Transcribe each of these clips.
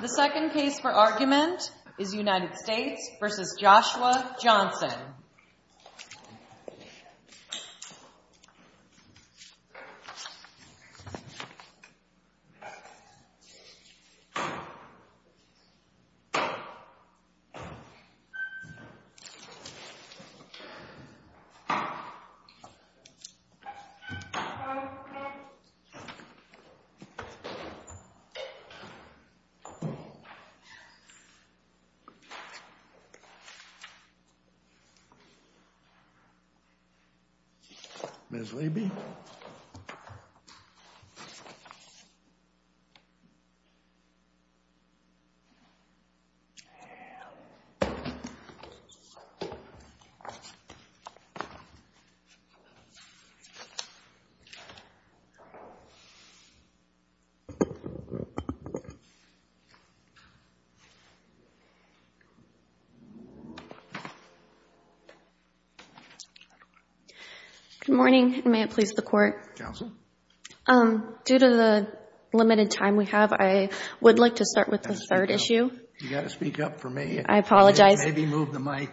The second case for argument is United States v. Joshua Johnson. The second case for argument is United States v. Joshua Johnson. MS. KAYE GOLDSMITH. Good morning. May it please the Court. Counsel? Due to the limited time we have, I would like to start with the third issue. You've got to speak up for me. I apologize. Maybe move the mic.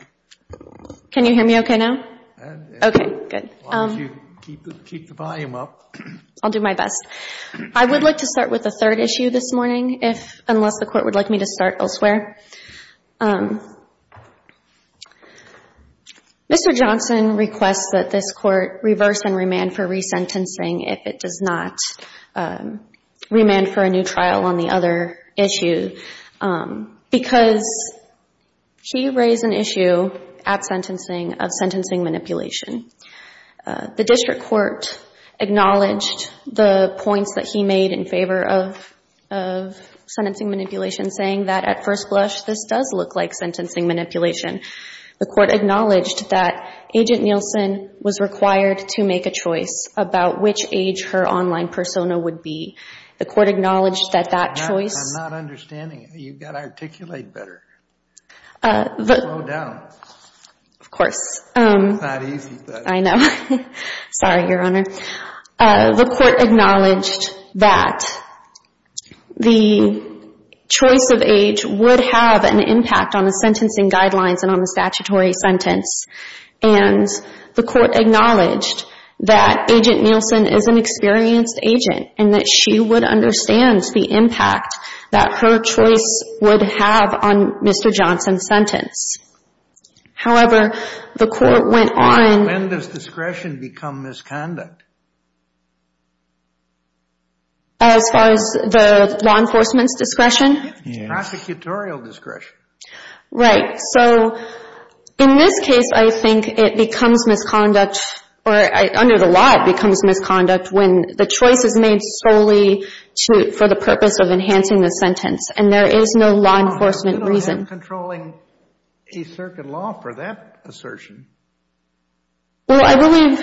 Can you hear me okay now? JUSTICE SCALIA. Yes. Okay, good. Why don't you keep the volume up? I'll do my best. I would like to start with the third issue this morning, unless the Court would like me to start elsewhere. Mr. Johnson requests that this Court reverse and remand for resentencing if it does not remand for a new trial on the other issue, because he raised an issue at sentencing of sentencing manipulation. The District Court acknowledged the points that he made in favor of sentencing manipulation, saying that at first blush, this does look like sentencing manipulation. The Court acknowledged that Agent Nielsen was required to make a choice about which age her online persona would be. The Court acknowledged that that choice... I'm not understanding it. You've got to articulate better. Slow down. Of course. It's not easy. I know. Sorry, Your Honor. The Court acknowledged that the choice of age would have an impact on the sentencing guidelines and on the statutory sentence. And the Court acknowledged that Agent Nielsen is an experienced agent, and that she would understand the impact that her choice would have on Mr. Johnson's sentence. However, the Court went on... When does discretion become misconduct? As far as the law enforcement's discretion? Prosecutorial discretion. Right. So, in this case, I think it becomes misconduct, or under the law, it becomes misconduct when the choice is made solely for the purpose of enhancing the sentence, and there is no law enforcement reason. I'm controlling a circuit law for that assertion. Well, I believe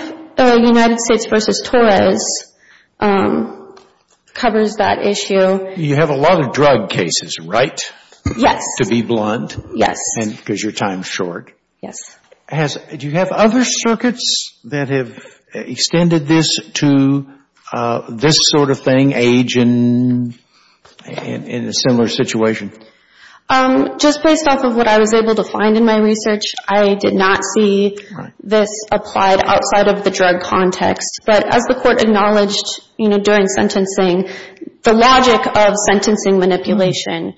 United States v. Torres covers that issue. You have a lot of drug cases, right? Yes. To be blunt. Yes. Because your time is short. Yes. Do you have other circuits that have extended this to this sort of thing, age in a similar situation? Just based off of what I was able to find in my research, I did not see this applied outside of the drug context. But as the Court acknowledged, you know, during sentencing, the logic of sentencing manipulation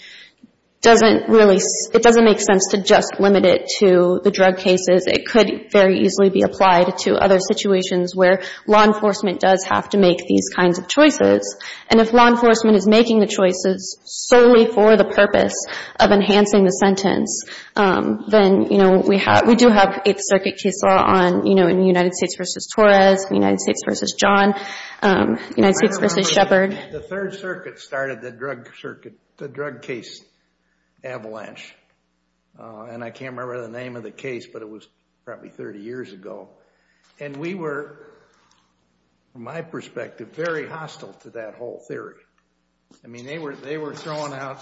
doesn't really... It doesn't make sense to just limit it to the drug cases. It could very easily be applied to other situations where law enforcement does have to make these kinds of choices. And if law enforcement is making the choices solely for the purpose of enhancing the sentence, then, you know, we do have Eighth Circuit case law on United States v. Torres, United States v. John, United States v. Shepard. The Third Circuit started the drug case avalanche. And I can't remember the name of the case, but it was probably 30 years ago. And we were, from my perspective, very hostile to that whole theory. I mean, they were throwing out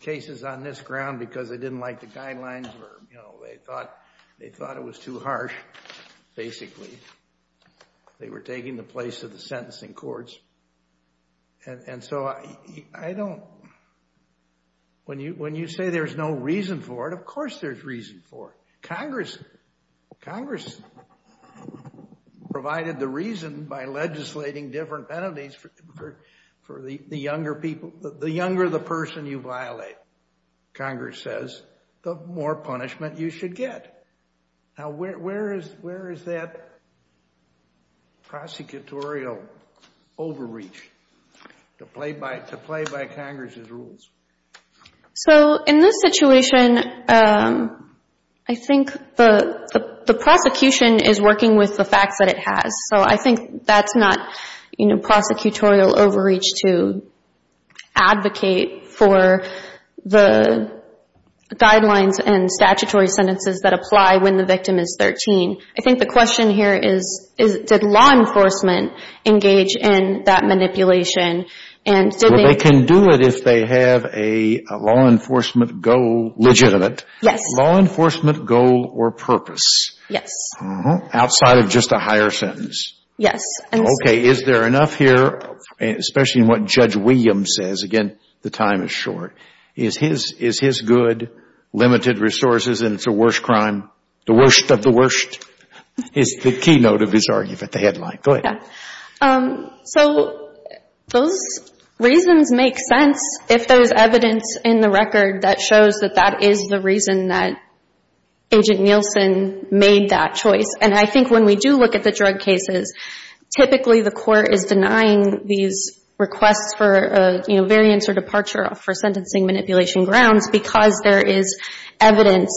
cases on this ground because they didn't like the guidelines or, you know, they thought it was too harsh, basically. They were taking the place of the sentencing courts. And so I don't... When you say there's no reason for it, of course there's reason for it. Congress provided the reason by legislating different penalties for the younger people. The younger the person you violate, Congress says, the more punishment you should get. Now, where is that prosecutorial overreach to play by Congress's rules? So, in this situation, I think the prosecution is working with the facts that it has. So I think that's not, you know, prosecutorial overreach to advocate for the guidelines and statutory sentences that apply when the victim is 13. I think the question here is, did law enforcement engage in that manipulation? Well, they can do it if they have a law enforcement goal, legitimate law enforcement goal or purpose. Yes. Outside of just a higher sentence. Yes. Okay, is there enough here, especially in what Judge Williams says? Again, the time is short. Is his good limited resources and it's a worse crime? The worst of the worst is the keynote of his argument, the headline. Go ahead. So, those reasons make sense if there's evidence in the record that shows that that is the reason that Agent Nielsen made that choice. And I think when we do look at the drug cases, typically the court is denying these requests for a, you know, variance or departure for sentencing manipulation grounds because there is evidence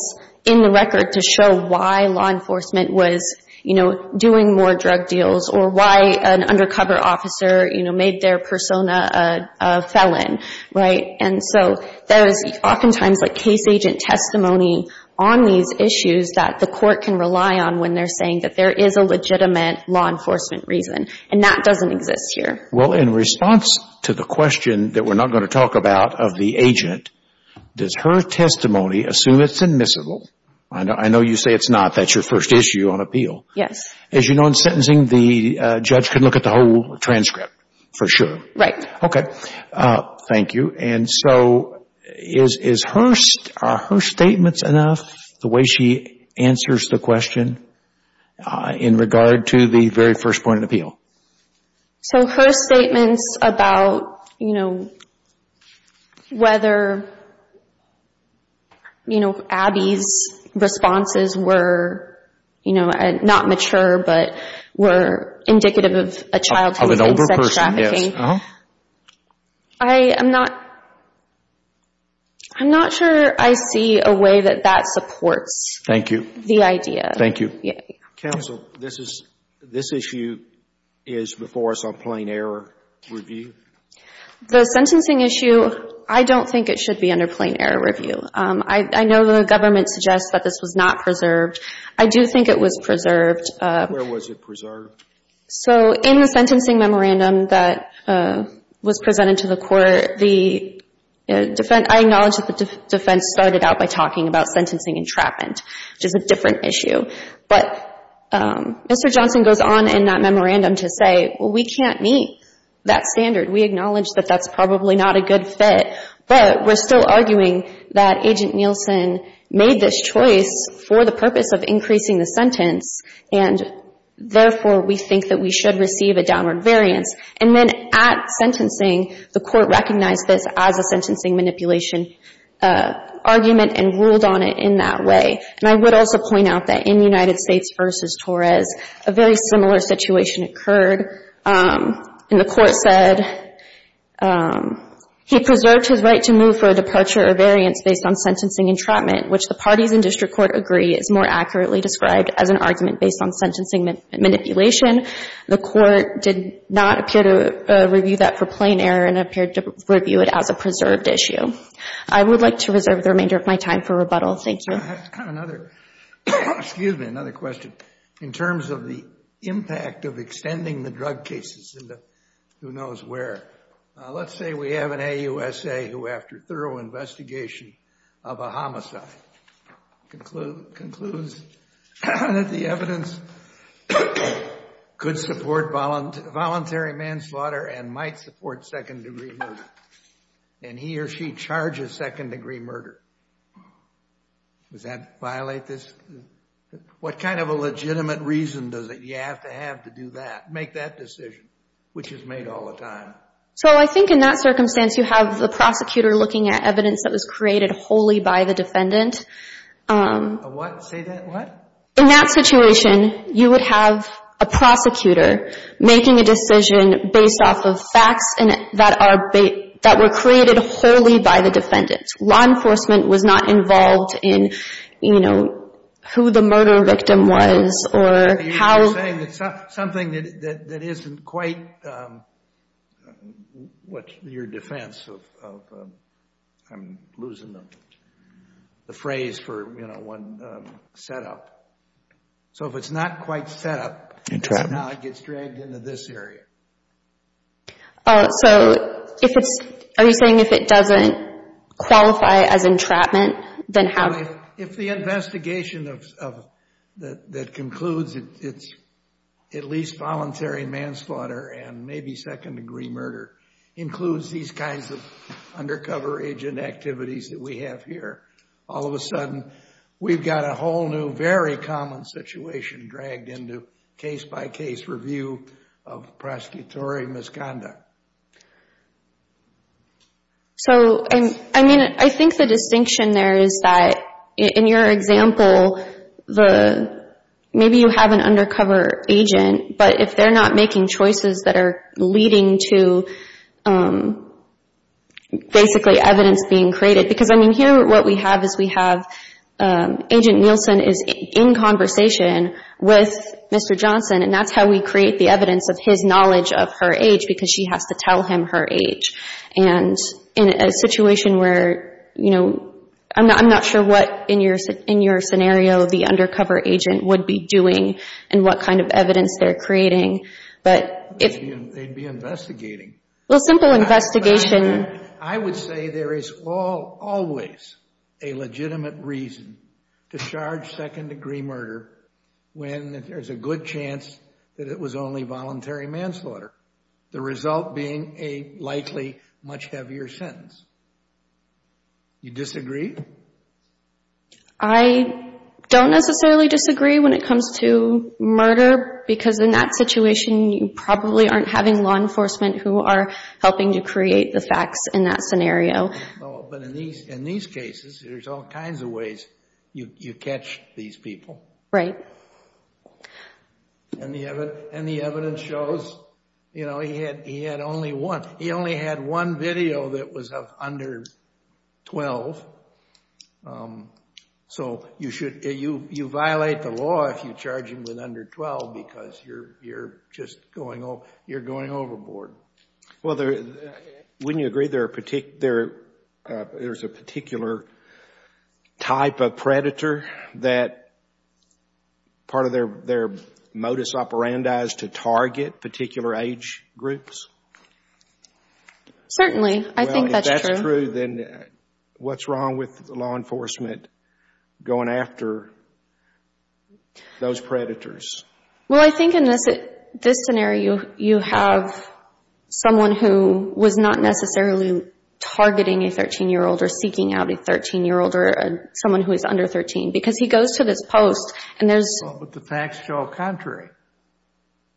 in the record to show why law enforcement was, you know, offering more drug deals or why an undercover officer, you know, made their persona a felon. Right? And so, there is oftentimes a case agent testimony on these issues that the court can rely on when they're saying that there is a legitimate law enforcement reason. And that doesn't exist here. Well, in response to the question that we're not going to talk about of the agent, does her testimony assume it's admissible? I know you say it's not. That's your first issue on appeal. Yes. As you know, in sentencing, the judge can look at the whole transcript for sure. Right. Okay. Thank you. And so, are her statements enough, the way she answers the question, in regard to the very first point of appeal? So, her statements about, you know, whether, you know, Abby's responses were, you know, not mature, but were indicative of a childhood sex trafficking. Of an older person, yes. Uh-huh. I am not, I'm not sure I see a way that that supports. Thank you. The idea. Thank you. Counsel, this is, this issue is before us on plain error review? The sentencing issue, I don't think it should be under plain error review. I know the government suggests that this was not preserved. I do think it was preserved. Where was it preserved? So, in the sentencing memorandum that was presented to the court, the defense, I acknowledge that the defense started out by talking about sentencing entrapment, which is a different issue. But, um, Mr. Johnson goes on in that memorandum to say, well, we can't meet that standard. We acknowledge that that's probably not a good fit. But, we're still arguing that Agent Nielsen made this choice for the purpose of increasing the sentence. And, therefore, we think that we should receive a downward variance. And then, at sentencing, the court recognized this as a sentencing manipulation argument and ruled on it in that way. And I would also point out that in United States v. Torres, a very similar situation occurred. And the court said he preserved his right to move for a departure or variance based on sentencing entrapment, which the parties in district court agree is more accurately described as an argument based on sentencing manipulation. The court did not appear to review that for plain error and appeared to review it as a preserved issue. I would like to reserve the remainder of my time for rebuttal. Thank you. Excuse me, another question. In terms of the impact of extending the drug cases into who knows where, let's say we have an AUSA who, after thorough investigation of a homicide, concludes that the evidence could support voluntary manslaughter and might support second-degree murder. And he or she charges second-degree murder. Does that violate this? What kind of a legitimate reason does it, you have to have to do that, make that decision, which is made all the time? So I think in that circumstance, you have the prosecutor looking at evidence that was created wholly by the defendant. Say that what? In that situation, you would have a prosecutor making a decision based off of facts that were created wholly by the defendant. Law enforcement was not involved in, you know, who the murder victim was or how. You're saying that something that isn't quite, what's your defense of, I'm losing the phrase for, you know, one set up. So if it's not quite set up, it gets dragged into this area. So if it's, are you saying if it doesn't qualify as entrapment, then how? If the investigation that concludes it's at least voluntary manslaughter and maybe second-degree murder includes these kinds of undercover agent activities that we have here, all of a sudden, we've got a whole new, very common situation dragged into case-by-case review of prosecutory misconduct. So, I mean, I think the distinction there is that in your example, maybe you have an undercover agent, but if they're not making choices that are leading to, basically, evidence being created. Because, I mean, here what we have is we have, Agent Nielsen is in conversation with Mr. Johnson and that's how we create the evidence of his knowledge of her age because she has to tell him her age. And in a situation where, you know, I'm not sure what, in your scenario, the undercover agent would be doing and what kind of evidence they're creating. They'd be investigating. Well, simple investigation. I would say there is always a legitimate reason to charge second-degree murder when there's a good chance that it was only voluntary manslaughter. The result being a likely much heavier sentence. You disagree? I don't necessarily disagree when it comes to murder because in that situation, you probably aren't having law enforcement who are helping to create the facts in that scenario. But in these cases, there's all kinds of ways you catch these people. Right. And the evidence shows, you know, he had only one. He only had one video that was of under 12. So you violate the law if you charge him with under 12 because you're just going overboard. Well, wouldn't you agree there's a particular type of predator that part of their modus operandi is to target particular age groups? Certainly. I think that's true. Well, if that's true, then what's wrong with law enforcement going after those predators? Well, I think in this scenario, you have someone who was not necessarily targeting a 13-year-old or seeking out a 13-year-old or someone who is under 13 because he goes to this post and there's... Well, but the facts show contrary.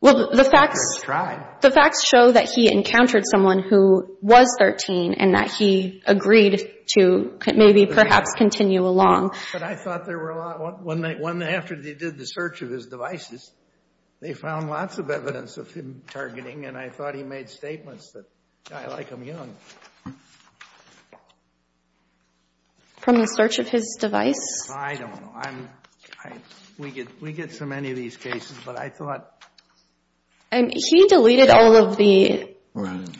Well, the facts... I just tried. The facts show that he encountered someone who was 13 and that he agreed to maybe perhaps continue along. But I thought there were a lot... After they did the search of his devices, they found lots of evidence of him targeting and I thought he made statements that, I like him young. From the search of his device? I don't know. We get so many of these cases, but I thought... He deleted all of the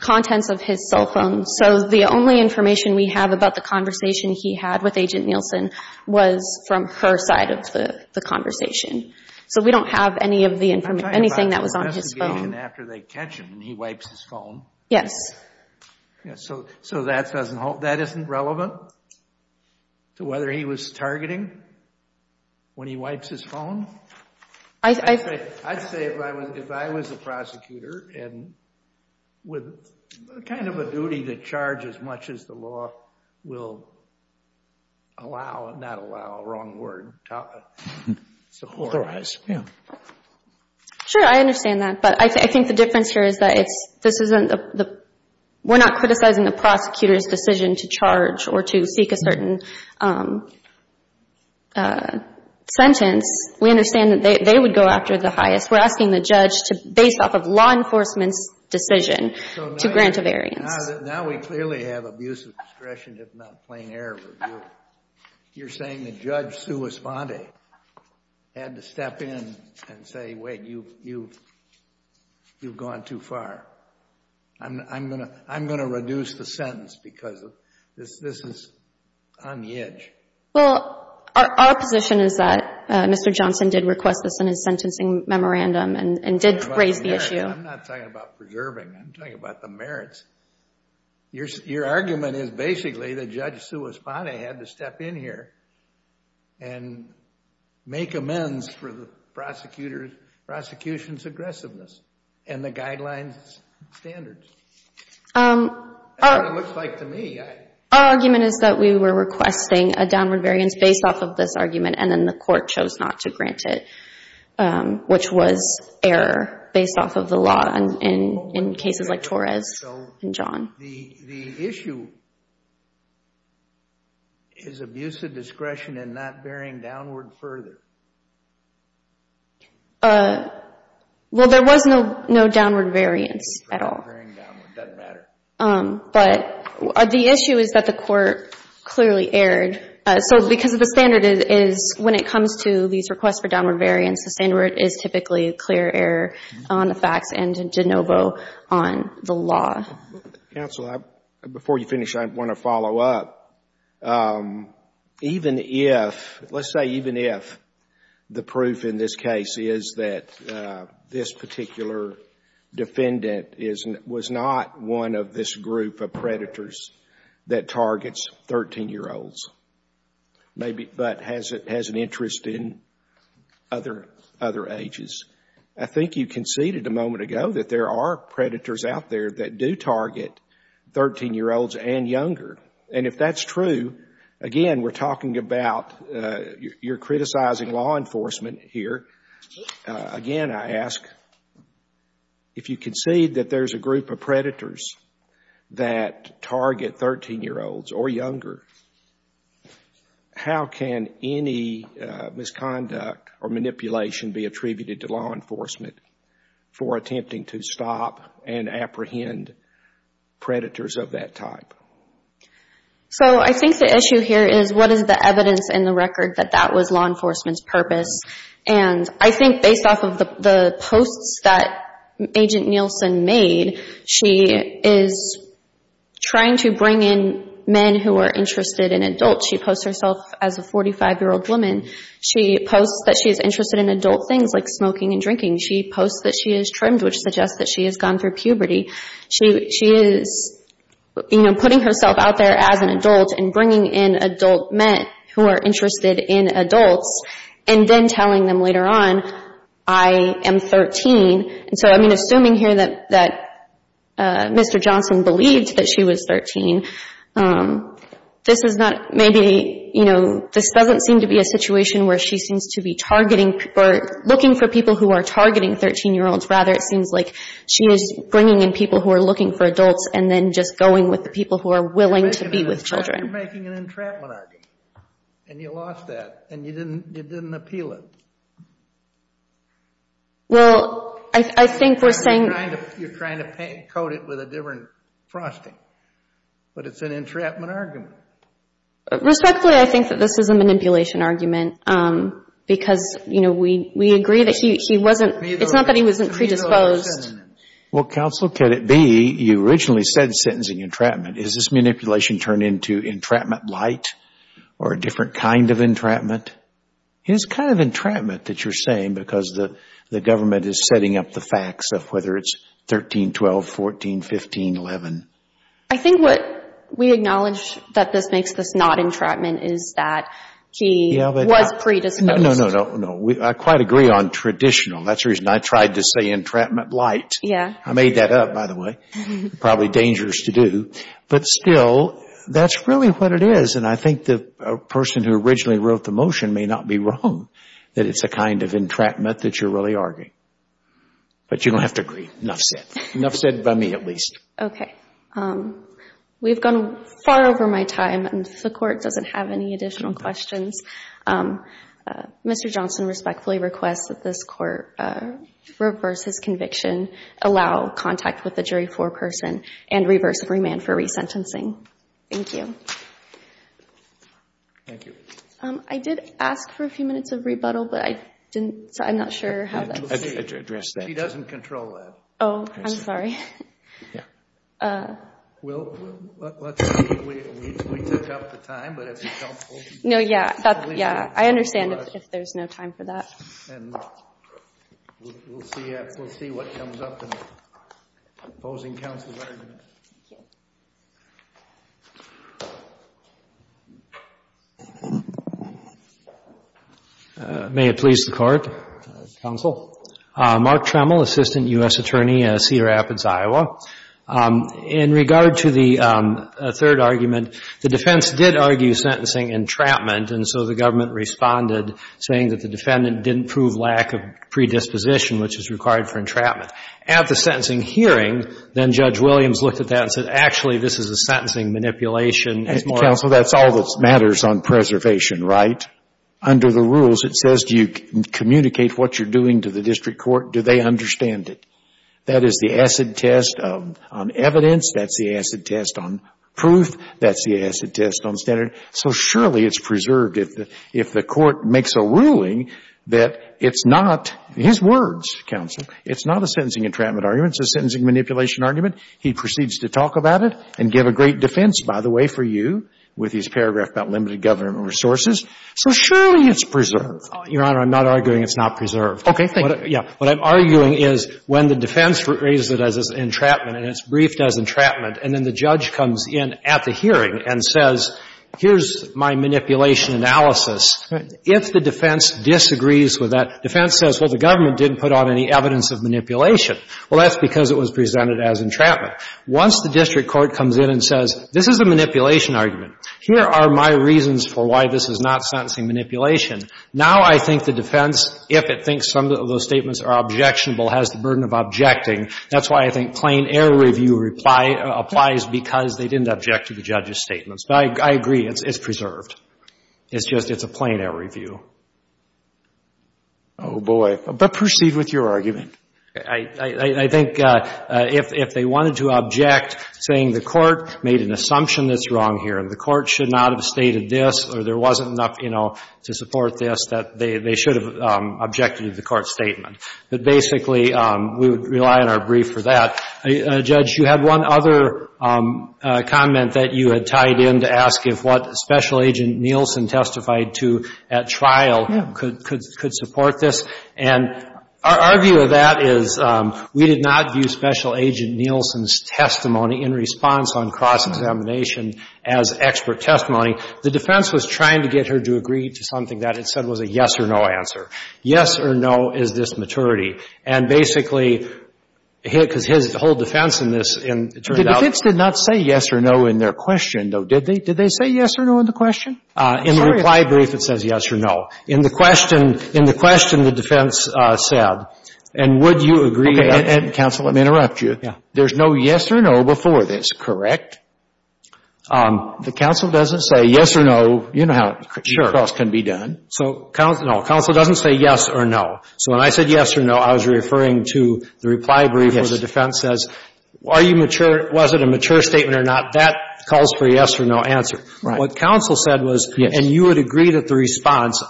contents of his cell phone. So the only information we have about the conversation he had with Agent Nielsen was from her side of the conversation. So we don't have any of the information, anything that was on his phone. I'm talking about the investigation after they catch him and he wipes his phone. Yes. So that doesn't hold... That isn't relevant to whether he was targeting when he wipes his phone? I'd say if I was a prosecutor and with kind of a duty to charge as much as the law will allow, not allow, wrong word, support. Authorize, yeah. Sure, I understand that. But I think the difference here is that this isn't the... We're not criticizing the prosecutor's decision to charge or to seek a certain sentence. We understand that they would go after the highest. We're asking the judge to, based off of law enforcement's decision, to grant a variance. Now we clearly have abuse of discretion if not plain error. You're saying the judge, Sua Sponte, had to step in and say, wait, you've gone too far. I'm going to reduce the sentence because this is on the edge. Well, our position is that Mr. Johnson did request this in his sentencing memorandum and did raise the issue. I'm not talking about preserving. I'm talking about the merits. Your argument is basically that Judge Sua Sponte had to step in here and make amends for the prosecution's aggressiveness and the guidelines and standards. That's what it looks like to me. Our argument is that we were requesting a downward variance based off of this argument and then the court chose not to grant it, which was error based off of the law in cases like Torres and John. The issue is abuse of discretion and not bearing downward further. Well, there was no downward variance at all. It doesn't matter. But the issue is that the court clearly erred. Because the standard is, when it comes to these requests for downward variance, the standard is typically a clear error on the facts and de novo on the law. Counsel, before you finish, I want to follow up. Even if, let's say even if, the proof in this case is that this particular defendant was not one of this group of predators that targets 13-year-olds but has an interest in other ages, I think you conceded a moment ago that there are predators out there that do target 13-year-olds and younger. And if that's true, again, we're talking about you're criticizing law enforcement here. Again, I ask, if you concede that there's a group of predators that target 13-year-olds or younger, how can any misconduct or manipulation be attributed to law enforcement for attempting to stop and apprehend predators of that type? So I think the issue here is, what is the evidence in the record that that was law enforcement's purpose? And I think based off of the posts that Agent Nielsen made, she is trying to bring in men who are interested in adults. She posts herself as a 45-year-old woman. She posts that she's interested in adult things like smoking and drinking. She posts that she is trimmed, which suggests that she has gone through puberty. She is putting herself out there as an adult and bringing in adult men who are interested in adults and then telling them later on, I am 13. And so, I mean, assuming here that Mr. Johnson believed that she was 13, this is not, maybe, you know, this doesn't seem to be a situation where she seems to be targeting, or looking for people who are targeting 13-year-olds. Rather, it seems like she is bringing in people who are looking for adults and then just going with the people who are willing to be with children. You're making an entrapment argument, and you lost that, and you didn't appeal it. Well, I think we're saying... You're trying to coat it with a different frosting. But it's an entrapment argument. Respectfully, I think that this is a manipulation argument because, you know, we agree that he wasn't, it's not that he wasn't predisposed. Well, counsel, could it be you originally said sentencing entrapment. Is this manipulation turned into entrapment light? Or a different kind of entrapment? It is kind of entrapment that you're saying because the government is setting up the facts of whether it's 13, 12, 14, 15, 11. I think what we acknowledge that this makes this not entrapment is that he was predisposed. No, no, no. I quite agree on traditional. That's the reason I tried to say entrapment light. I made that up, by the way. Probably dangerous to do. But still, that's really what it is. And I think the person who originally wrote the motion may not be wrong that it's a kind of entrapment that you're really arguing. But you don't have to agree. Enough said. Enough said by me, at least. Okay. We've gone far over my time and the Court doesn't have any additional questions. Mr. Johnson respectfully requests that this Court reverse his conviction, allow contact with the jury for a person, and reverse remand for resentencing. Thank you. Thank you. I did ask for a few minutes of rebuttal, but I'm not sure how that's... She doesn't control that. Oh, I'm sorry. Yeah. Let's see. We took up the time, but if you don't... No, yeah. I understand if there's no time for that. We'll see what comes up in opposing counsel's argument. Thank you. May it please the Court. Counsel. Mark Tremmel, Assistant U.S. Attorney at Cedar Rapids, Iowa. In regard to the third argument, the defense did argue sentencing entrapment, and so the government responded saying that the defendant didn't prove lack of predisposition, which is required for entrapment. At the sentencing hearing, then Judge Williams looked at that and said, actually, this is a sentencing manipulation. Counsel, that's all that matters on preservation, right? Under the rules, it says do you communicate what you're doing to the district court? Do they understand it? That is the acid test on evidence. That's the acid test on proof. That's the acid test on standard. So surely it's preserved if the court makes a ruling that it's not his words, counsel. It's not a sentencing entrapment argument. It's a sentencing manipulation argument. He proceeds to talk about it and give a great defense, by the way, for you with his paragraph about limited government resources. So surely it's preserved. Your Honor, I'm not arguing it's not preserved. Okay. Thank you. What I'm arguing is when the defense raises it as entrapment and it's briefed as entrapment, and then the judge comes in at the hearing and says, here's my manipulation analysis. If the defense disagrees with that, defense says, well, the argument didn't put on any evidence of manipulation. Well, that's because it was presented as entrapment. Once the district court comes in and says, this is a manipulation argument. Here are my reasons for why this is not sentencing manipulation. Now I think the defense, if it thinks some of those statements are objectionable, has the burden of objecting. That's why I think plain error review applies because they didn't object to the judge's statements. But I agree. It's preserved. It's just a plain error review. Oh, boy. But proceed with your argument. I think if they wanted to object, saying the court made an assumption that's wrong here and the court should not have stated this or there wasn't enough, you know, to support this, that they should have objected to the court's statement. But basically, we would rely on our brief for that. Judge, you had one other comment that you had tied in to ask if what Special Agent Nielsen testified to at trial could support this. And our view of that is we did not view Special Agent Nielsen's testimony in response on cross-examination as expert testimony. The defense was trying to get her to agree to something that it said was a yes or no answer. Yes or no, is this maturity? And basically, because his whole defense in this turned out... The defense did not say yes or no in their question, though, did they? Did they say yes or no in the question? In the reply brief, it says yes or no. In the question the defense said, and would you agree... Okay. Counsel, let me interrupt you. There's no yes or no before this, correct? The counsel doesn't say yes or no. You know how cross can be done. So counsel doesn't say yes or no. So when I said yes or no, I was referring to the reply brief where the defense says, was it a mature statement or not? That calls for a yes or no answer. What counsel said was, and you would agree to the response,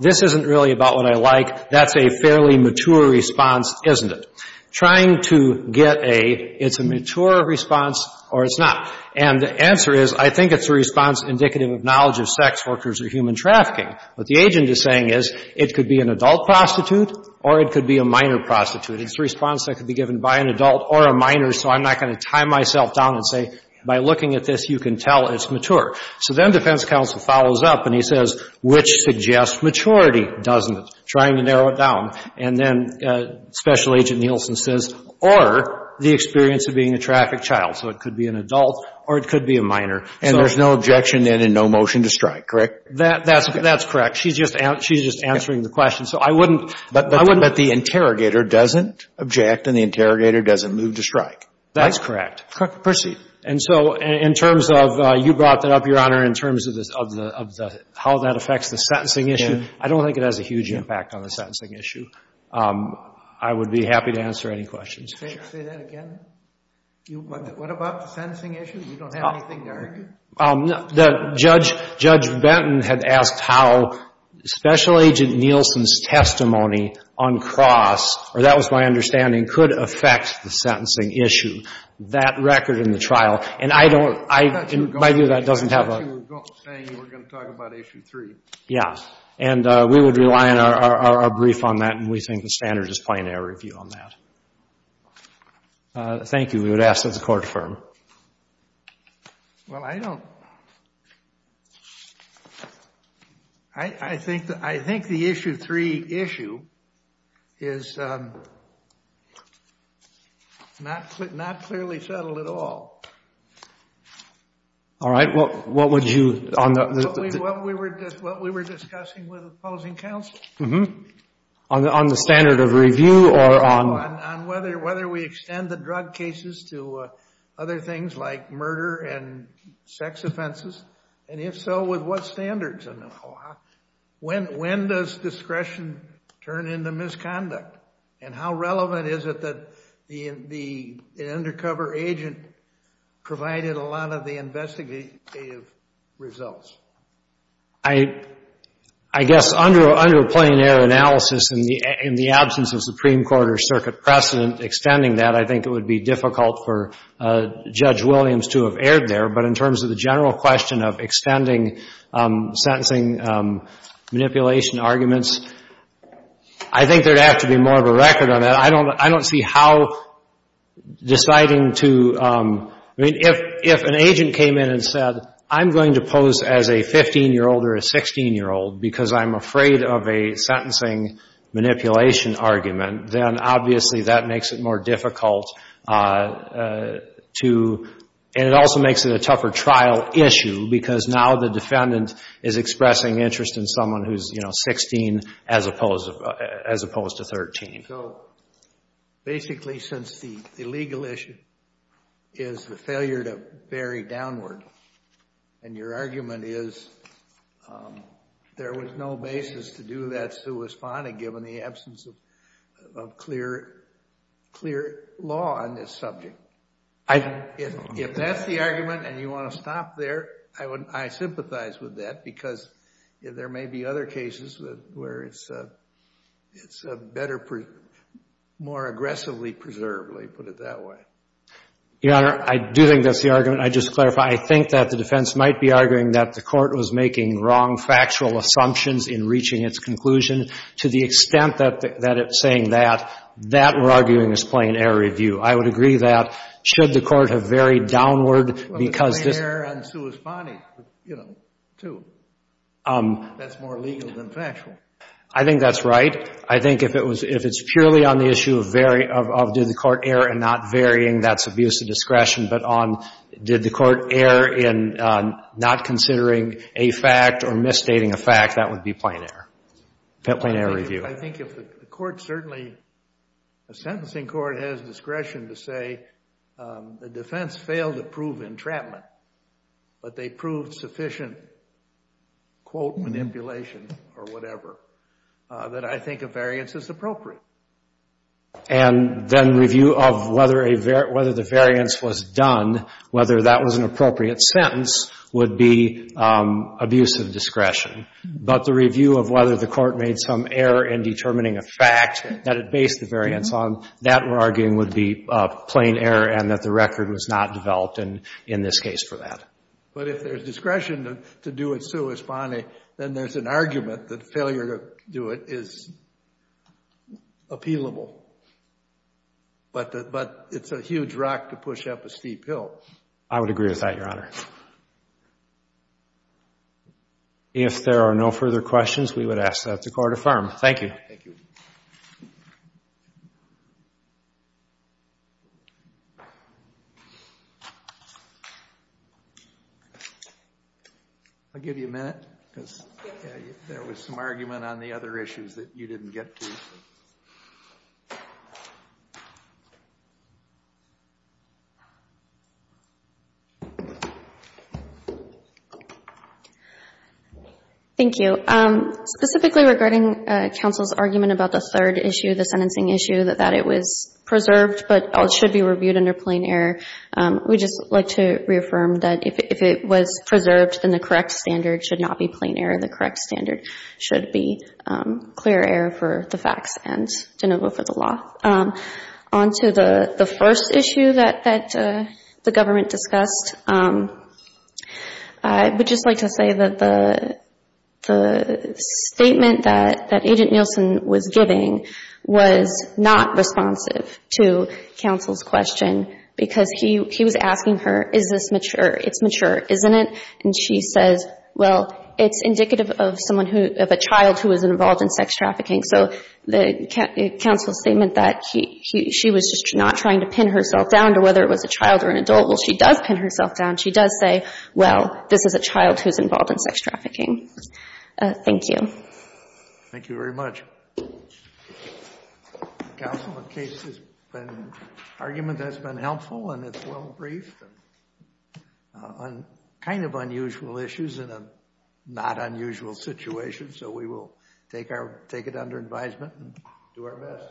this isn't really about what I like, that's a fairly mature response, isn't it? Trying to get a, it's a mature response or it's not. And the answer is, I think it's a response indicative of knowledge of sex workers or human trafficking. What the agent is saying is, it could be an adult prostitute or it could be a minor prostitute. It's a response that could be given by an adult or a minor, so I'm not going to tie myself down and say, by looking at this, you can tell it's mature. So then defense counsel follows up and he says, which suggests maturity, doesn't it? Trying to narrow it down. And then Special Agent Nielsen says, or the experience of being a trafficked child. So it could be an adult or it could be a minor. And there's no objection then and no motion to strike, correct? That's correct. She's just answering the question. So I wouldn't. But the interrogator doesn't object and the interrogator doesn't move to strike. That's correct. Proceed. And so in terms of, you brought that up, Your Honor, in terms of how that affects the sentencing issue, I don't think it has a huge impact on the sentencing issue. I would be happy to answer any questions. Say that again? What about the sentencing issue? You don't have anything to argue? Judge Benton had asked how Special Agent Nielsen's testimony uncrossed or that was my understanding, could affect the sentencing issue. That record in the trial, and I don't, in my view that doesn't have a That's what you were saying, you were going to talk about Issue 3. Yeah. And we would rely on our brief on that and we think the standard is plain air review on that. Thank you. We would ask that the Court affirm. Well, I don't. I think the Issue 3 issue is not clearly settled at all. All right. What would you... What we were discussing with opposing counsel. On the standard of review or on... On whether we extend the drug cases to other things like murder and sex offenses. And if so, with what standards? When does discretion turn into misconduct? And how relevant is it that the undercover agent provided a lot of the investigative results? I guess under a plain air analysis in the absence of Supreme Court or Circuit precedent, extending that, I think it would be difficult for Judge Williams to have erred there. But in terms of the general question of extending sentencing manipulation arguments, I think there would have to be more of a record on that. I don't see how deciding to... I mean, if an agent came in and said, I'm going to pose as a 15-year-old or a 16-year-old because I'm afraid of a sentencing manipulation argument, then obviously that makes it more difficult to... And it also makes it a tougher trial issue because now the defendant is expressing interest in someone who's, you know, 16 as opposed to 13. Basically, since the legal issue is the failure to vary downward, and your argument is there was no basis to do that sui sponda given the absence of clear law on this subject. If that's the argument and you want to stop there, I sympathize with that because there may be other cases where it's better more aggressively preserved, let's put it that way. Your Honor, I do think that's the argument. I just clarify. I think that the defense might be arguing that the court was making wrong factual assumptions in reaching its conclusion. To the extent that it's saying that, that we're arguing is plain error review. I would agree that should the court have varied downward because this... You know, too. That's more legal than factual. I think that's right. I think if it's purely on the issue of did the court err and not varying, that's abuse of discretion, but on did the court err in not considering a fact or misstating a fact, that would be plain error. I think if the court certainly a sentencing court has discretion to say the defense failed to prove entrapment, but they proved sufficient quote manipulation or whatever, that I think a variance is appropriate. And then review of whether the variance was done, whether that was an appropriate sentence would be abuse of discretion. But the review of whether the court made some error in determining a fact that it based the variance on, that we're arguing would be plain error and that the record was not developed in this case for that. But if there's discretion to do it sui spani, then there's an argument that failure to do it is appealable. But it's a huge rock to push up a steep hill. I would agree with that, Your Honor. If there are no further questions, we would ask that the court affirm. Thank you. I'll give you a minute. There was some argument on the other issues that you didn't get to. Thank you. Thank you. Specifically regarding counsel's argument about the third issue, the sentencing issue, that it was preserved but should be reviewed under plain error, we'd just like to reaffirm that if it was preserved, then the correct standard should not be plain error. The correct standard should be clear error for the facts and de novo for the law. On to the first issue that the government discussed. I would just like to say that the statement that Agent Nielsen was giving was not responsive to counsel's question because he was asking her, it's mature, isn't it? And she says, well, it's indicative of a child who was involved in sex trafficking. So counsel's statement that she was just not trying to pin herself down to whether it was a child or an adult, well, she does pin herself down. She does say, well, this is a child who's involved in sex trafficking. Thank you. Thank you very much. Counsel, the case has been, argument has been helpful and it's well briefed on kind of not unusual situations, so we will take it under advisement and do our best.